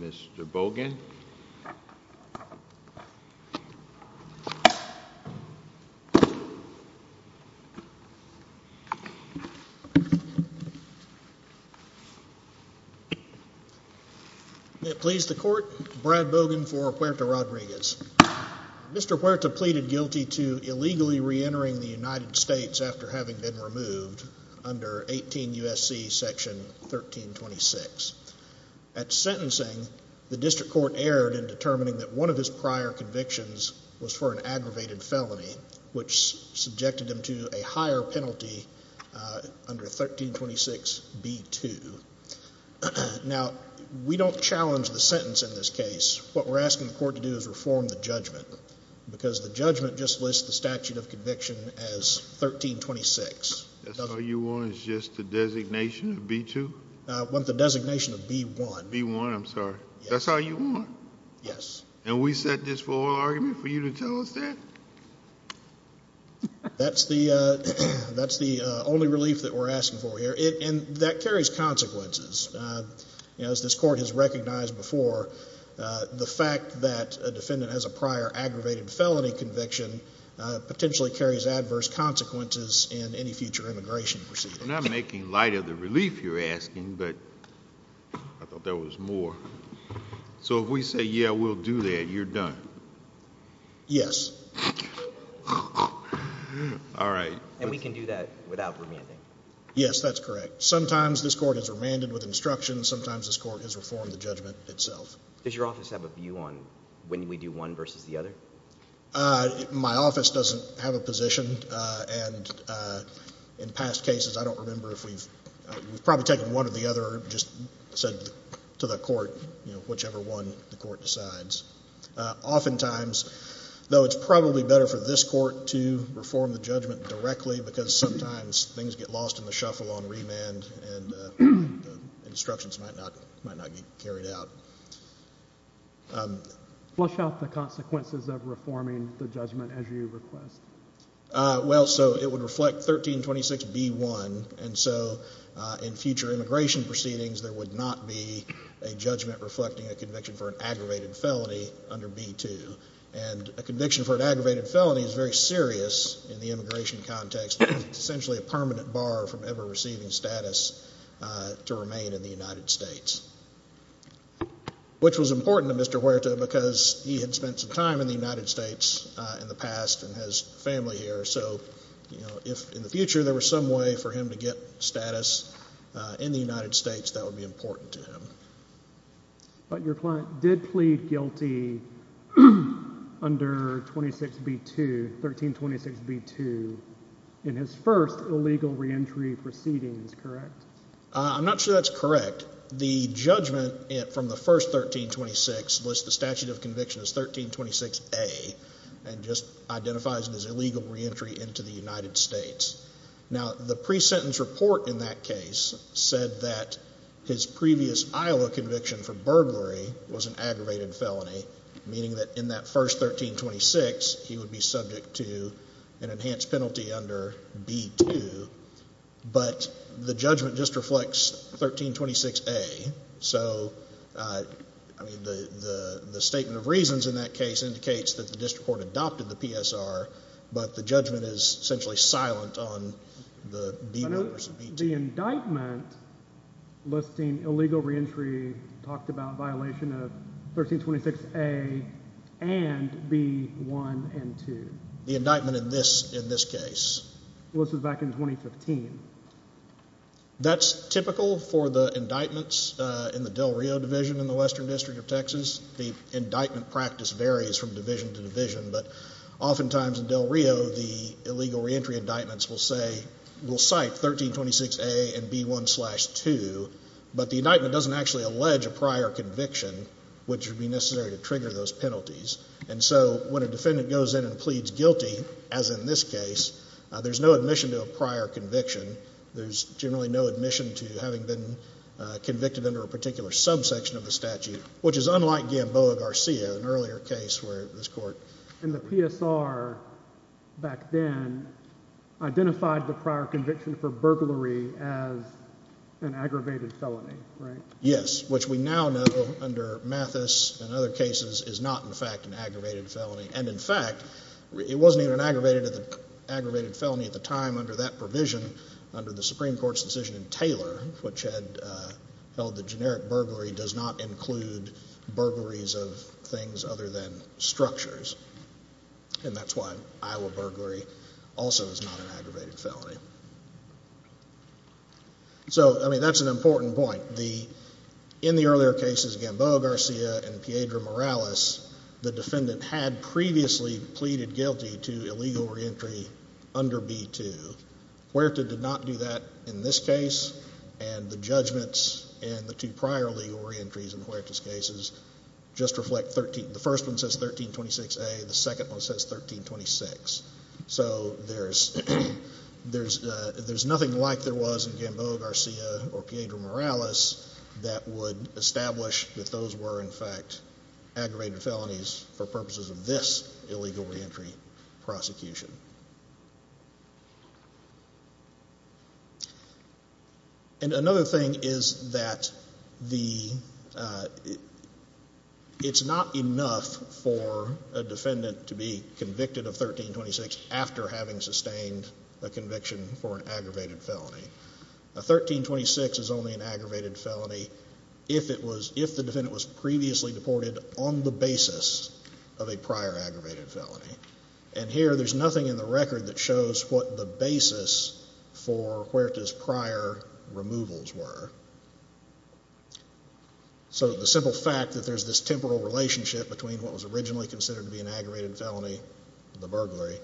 Mr. Bogan May it please the court, Brad Bogan for Huerta-Rodriguez. Mr. Huerta pleaded guilty to illegally re-entering the United States after having been removed under 18 U.S.C. section 1326. At sentencing, the district court erred in determining that one of his prior convictions was for an aggravated felony, which subjected him to a higher penalty under 1326b2. Now, we don't challenge the sentence in this case. What we're asking the court to do is reform the judgment because the judgment just lists the statute of conviction as 1326. That's all you want is just the designation of b2? I want the designation of b1. b1, I'm sorry. That's all you want? Yes. And we set this for an argument for you to tell us that? That's the only relief that we're asking for here, and that carries consequences. As this court has recognized before, the fact that a defendant has a prior aggravated felony conviction potentially carries adverse consequences in any future immigration proceedings. I'm not making light of the relief you're asking, but I thought there was more. So if we say, yeah, we'll do that, you're done? Yes. All right. And we can do that without remanding? Yes, that's correct. Sometimes this court has remanded with instruction. Sometimes this court has reformed the judgment itself. Does your office have a view on when we do one versus the other? My office doesn't have a position. And in past cases, I don't remember if we've probably taken one or the other or just said to the court, you know, whichever one the court decides. Oftentimes, though, it's probably better for this court to reform the judgment directly because sometimes things get lost in the shuffle on remand and instructions might not be carried out. Flush out the consequences of reforming the judgment as you request. Well, so it would reflect 1326B1. And so in future immigration proceedings, there would not be a judgment reflecting a conviction for an aggravated felony under B2. And a conviction for an aggravated felony is very serious in the immigration context. It's essentially a permanent bar from ever receiving status to remain in the United States, which was important to Mr. Huerta because he had spent some time in the United States in the past and has family here. So, you know, if in the future there were some way for him to get status in the United States, that would be important to him. But your client did plead guilty under 26B2, 1326B2, in his first illegal reentry proceedings, correct? I'm not sure that's correct. The judgment from the first 1326 lists the statute of conviction as 1326A and just identifies it as illegal reentry into the United States. Now, the pre-sentence report in that case said that his previous Iowa conviction for burglary was an aggravated felony, meaning that in that first 1326, he would be subject to an enhanced penalty under B2. But the judgment just reflects 1326A. So, I mean, the statement of reasons in that case indicates that the district court adopted the PSR, but the judgment is essentially silent on the B numbers of B2. The indictment listing illegal reentry talked about violation of 1326A and B1 and 2. The indictment in this case? Well, this was back in 2015. That's typical for the indictments in the Del Rio Division in the Western District of Texas. The indictment practice varies from division to division, but oftentimes in Del Rio, the illegal reentry indictments will say, will cite 1326A and B1 slash 2, but the indictment doesn't actually allege a prior conviction, which would be necessary to trigger those penalties. And so when a defendant goes in and pleads guilty, as in this case, there's no admission to a prior conviction. There's generally no admission to having been convicted under a particular subsection of the statute, which is unlike Gamboa Garcia, an earlier case where this court… And the PSR back then identified the prior conviction for burglary as an aggravated felony, right? Yes, which we now know under Mathis and other cases is not, in fact, an aggravated felony. And, in fact, it wasn't even an aggravated felony at the time under that provision under the Supreme Court's decision in Taylor, which had held that generic burglary does not include burglaries of things other than structures. And that's why Iowa burglary also is not an aggravated felony. So, I mean, that's an important point. In the earlier cases, Gamboa Garcia and Piedra Morales, the defendant had previously pleaded guilty to illegal reentry under B2. Huerta did not do that in this case, and the judgments in the two prior legal reentries in Huerta's cases just reflect 13… The first one says 1326A. The second one says 1326. So there's nothing like there was in Gamboa Garcia or Piedra Morales that would establish that those were, in fact, aggravated felonies for purposes of this illegal reentry prosecution. And another thing is that the… It's not enough for a defendant to be convicted of 1326 after having sustained a conviction for an aggravated felony. A 1326 is only an aggravated felony if it was… if the defendant was previously deported on the basis of a prior aggravated felony. And here there's nothing in the record that shows what the basis for Huerta's prior removals were. So the simple fact that there's this temporal relationship between what was originally considered to be an aggravated felony, the burglary,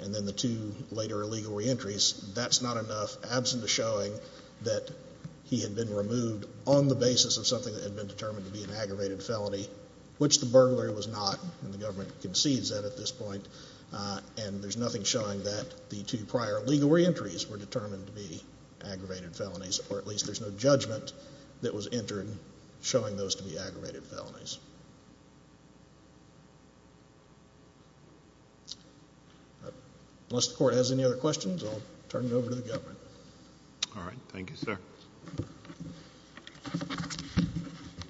and then the two later illegal reentries, that's not enough, absent the showing that he had been removed on the basis of something that had been determined to be an aggravated felony, which the burglary was not, and the government concedes that at this point, and there's nothing showing that the two prior illegal reentries were determined to be aggravated felonies, or at least there's no judgment that was entered showing those to be aggravated felonies. Unless the Court has any other questions, I'll turn it over to the government. All right. Thank you, sir.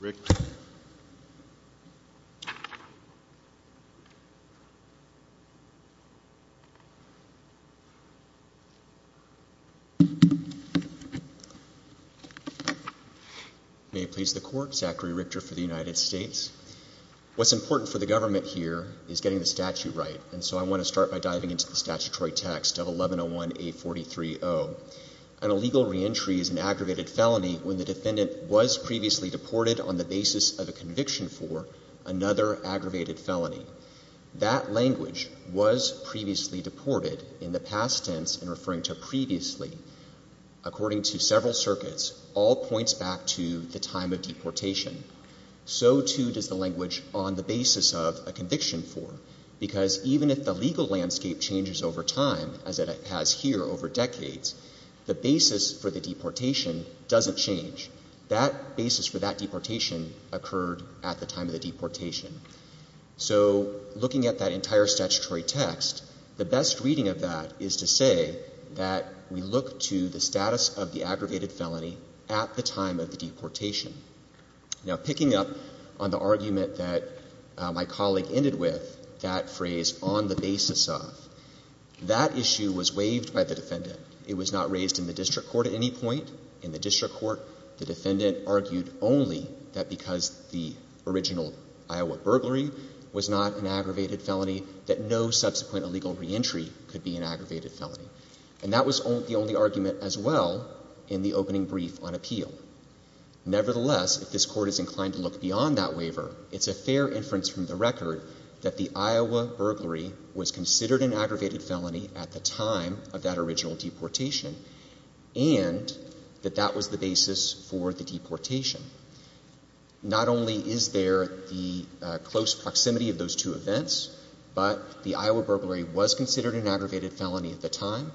Richter. May it please the Court. Zachary Richter for the United States. What's important for the government here is getting the statute right, and so I want to start by diving into the statutory text of 1101A43-0. An illegal reentry is an aggravated felony when the defendant was previously deported on the basis of a conviction for another aggravated felony. That language, was previously deported in the past tense and referring to previously, according to several circuits, all points back to the time of deportation. So, too, does the language on the basis of a conviction for, because even if the legal landscape changes over time, as it has here over decades, the basis for the deportation doesn't change. That basis for that deportation occurred at the time of the deportation. So looking at that entire statutory text, the best reading of that is to say that we look to the status of the aggravated felony at the time of the deportation. Now, picking up on the argument that my colleague ended with, that phrase, on the basis of, that issue was waived by the defendant. It was not raised in the district court at any point. In the district court, the defendant argued only that because the original Iowa burglary was not an aggravated felony, that no subsequent illegal reentry could be an aggravated felony. And that was the only argument as well in the opening brief on appeal. Nevertheless, if this Court is inclined to look beyond that waiver, it's a fair inference from the record that the Iowa burglary was considered an aggravated felony at the time of that original deportation, and that that was the basis for the deportation. Not only is there the close proximity of those two events, but the Iowa burglary was considered an aggravated felony at the time.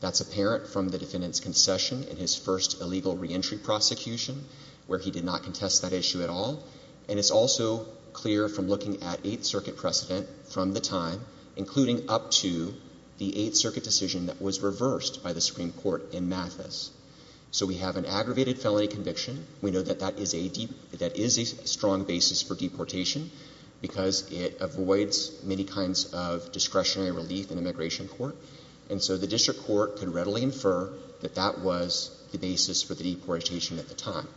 That's apparent from the defendant's concession in his first illegal reentry prosecution, where he did not contest that issue at all. And it's also clear from looking at Eighth Circuit precedent from the time, including up to the Eighth Circuit decision that was reversed by the Supreme Court in Mathis. So we have an aggravated felony conviction. We know that that is a strong basis for deportation because it avoids many kinds of discretionary relief in immigration court. And so the district court can readily infer that that was the basis for the deportation at the time.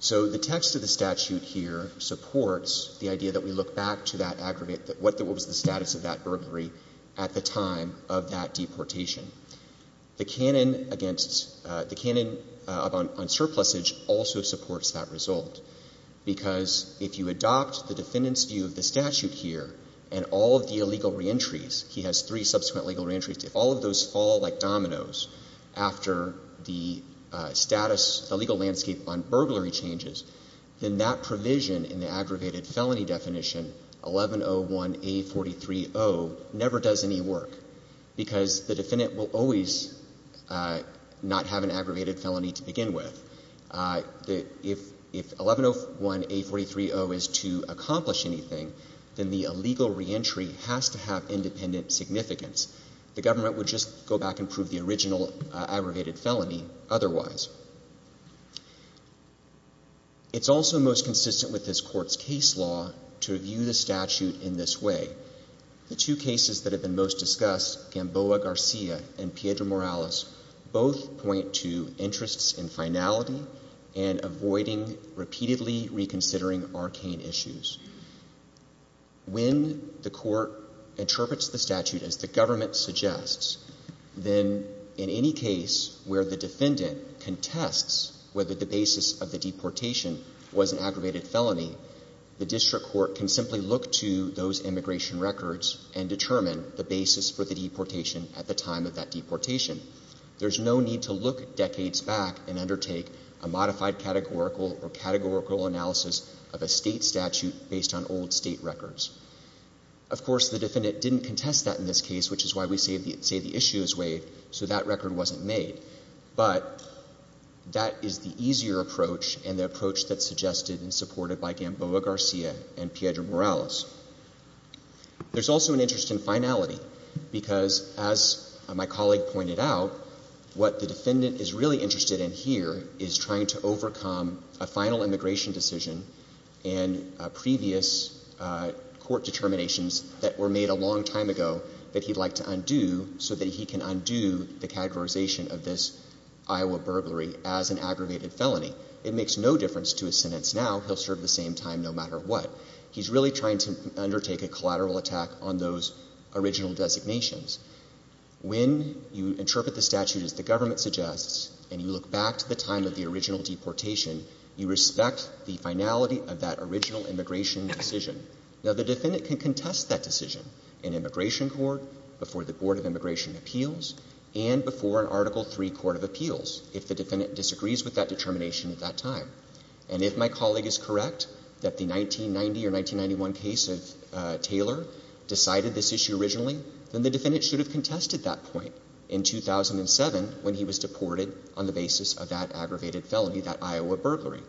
So the text of the statute here supports the idea that we look back to that aggravated, what was the status of that burglary at the time of that deportation. The canon against, the canon on surplusage also supports that result, because if you adopt the defendant's view of the statute here and all of the illegal reentries, he has three subsequent legal reentries. If all of those fall like dominoes after the status, the legal landscape on burglary changes, then that provision in the aggravated felony definition, 1101A43O, never does any work, because the defendant will always not have an aggravated felony to begin with. If 1101A43O is to accomplish anything, then the illegal reentry has to have independent significance. The government would just go back and prove the original aggravated felony otherwise. It's also most consistent with this court's case law to view the statute in this way. The two cases that have been most discussed, Gamboa Garcia and Piedra Morales, both point to interests in finality and avoiding repeatedly reconsidering arcane issues. When the court interprets the statute as the government suggests, then in any case where the defendant contests whether the basis of the deportation was an aggravated felony, the district court can simply look to those immigration records and determine the basis for the deportation at the time of that deportation. There's no need to look decades back and undertake a modified categorical or categorical analysis of a state statute based on old state records. Of course, the defendant didn't contest that in this case, which is why we say the issue is waived, so that record wasn't made, but that is the easier approach and the approach that's suggested and supported by Gamboa Garcia and Piedra Morales. There's also an interest in finality, because as my colleague pointed out, what the defendant is really interested in here is trying to overcome a final immigration decision and previous court determinations that were made a long time ago that he'd like to undo so that he can undo the categorization of this Iowa burglary as an aggravated felony. It makes no difference to his sentence now. He'll serve the same time no matter what. He's really trying to undertake a collateral attack on those original designations. When you interpret the statute as the government suggests and you look back to the time of the original deportation, you respect the finality of that original immigration decision. Now, the defendant can contest that decision in immigration court, before the Board of Immigration Appeals, and before an Article III Court of Appeals if the defendant disagrees with that determination at that time. And if my colleague is correct that the 1990 or 1991 case of Taylor decided this issue originally, then the defendant should have contested that point in 2007 when he was deported on the basis of that aggravated felony, that Iowa burglary.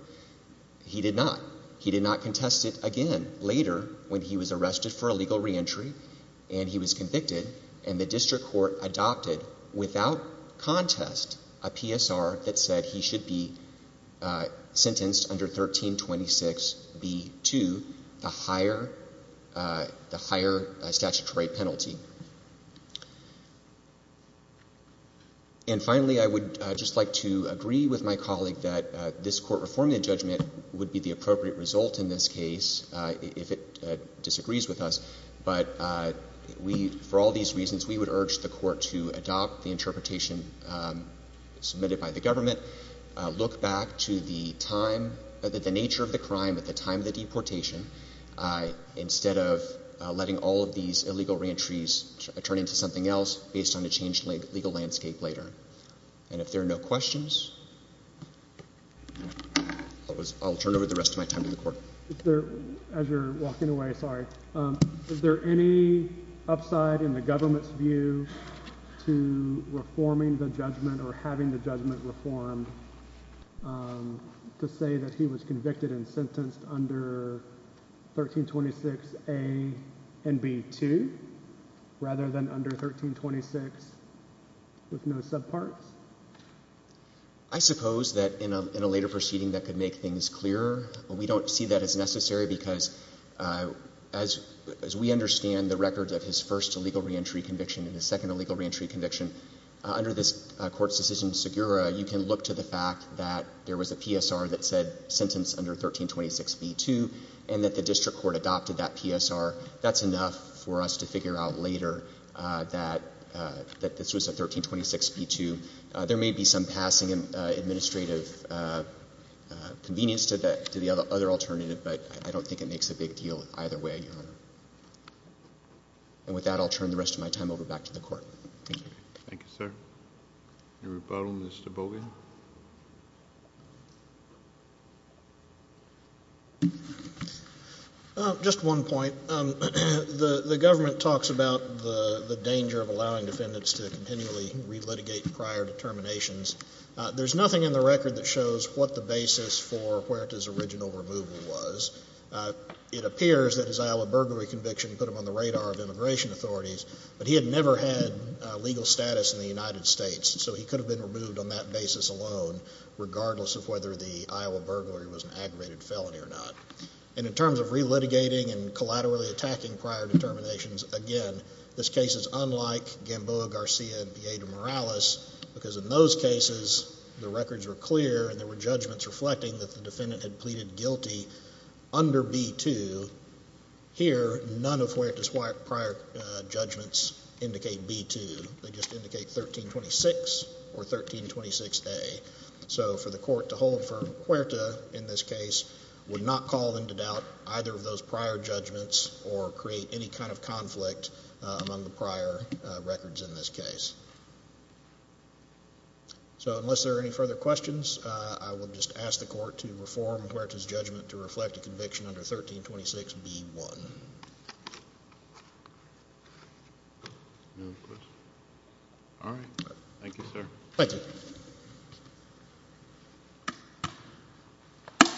He did not. He did not contest it again later when he was arrested for illegal reentry and he was convicted and the district court adopted, without contest, a PSR that said he should be sentenced under 1326B2, the higher statutory penalty. And finally, I would just like to agree with my colleague that this Court reforming the judgment would be the appropriate result in this case if it disagrees with us. But for all these reasons, we would urge the Court to adopt the interpretation submitted by the government, look back to the nature of the crime at the time of the deportation, instead of letting all of these illegal reentries turn into something else based on a changed legal landscape later. And if there are no questions, I'll turn over the rest of my time to the Court. As you're walking away, sorry. Is there any upside in the government's view to reforming the judgment or having the judgment reformed to say that he was convicted and sentenced under 1326A and B2 rather than under 1326 with no subparts? I suppose that in a later proceeding that could make things clearer. We don't see that as necessary because as we understand the records of his first illegal reentry conviction and his second illegal reentry conviction, under this Court's decision, Segura, you can look to the fact that there was a PSR that said sentence under 1326B2 and that the district court adopted that PSR. That's enough for us to figure out later that this was a 1326B2. There may be some passing administrative convenience to the other alternative, but I don't think it makes a big deal either way, Your Honor. And with that, I'll turn the rest of my time over back to the Court. Thank you. Thank you, sir. Any rebuttal, Mr. Boggan? Just one point. The government talks about the danger of allowing defendants to continually relitigate prior determinations. There's nothing in the record that shows what the basis for Huerta's original removal was. It appears that his Iowa burglary conviction put him on the radar of immigration authorities, but he had never had legal status in the United States, so he could have been removed on that basis alone, regardless of whether the Iowa burglary was an aggravated felony or not. And in terms of relitigating and collaterally attacking prior determinations, again, this case is unlike Gamboa, Garcia, and Piedra Morales, because in those cases the records were clear and there were judgments reflecting that the defendant had pleaded guilty under B2. Here, none of Huerta's prior judgments indicate B2. They just indicate 1326 or 1326A. So for the court to hold for Huerta in this case would not call into doubt either of those prior judgments or create any kind of conflict among the prior records in this case. So unless there are any further questions, I will just ask the court to reform Huerta's judgment to reflect a conviction under 1326B1. Thank you, sir. Thank you.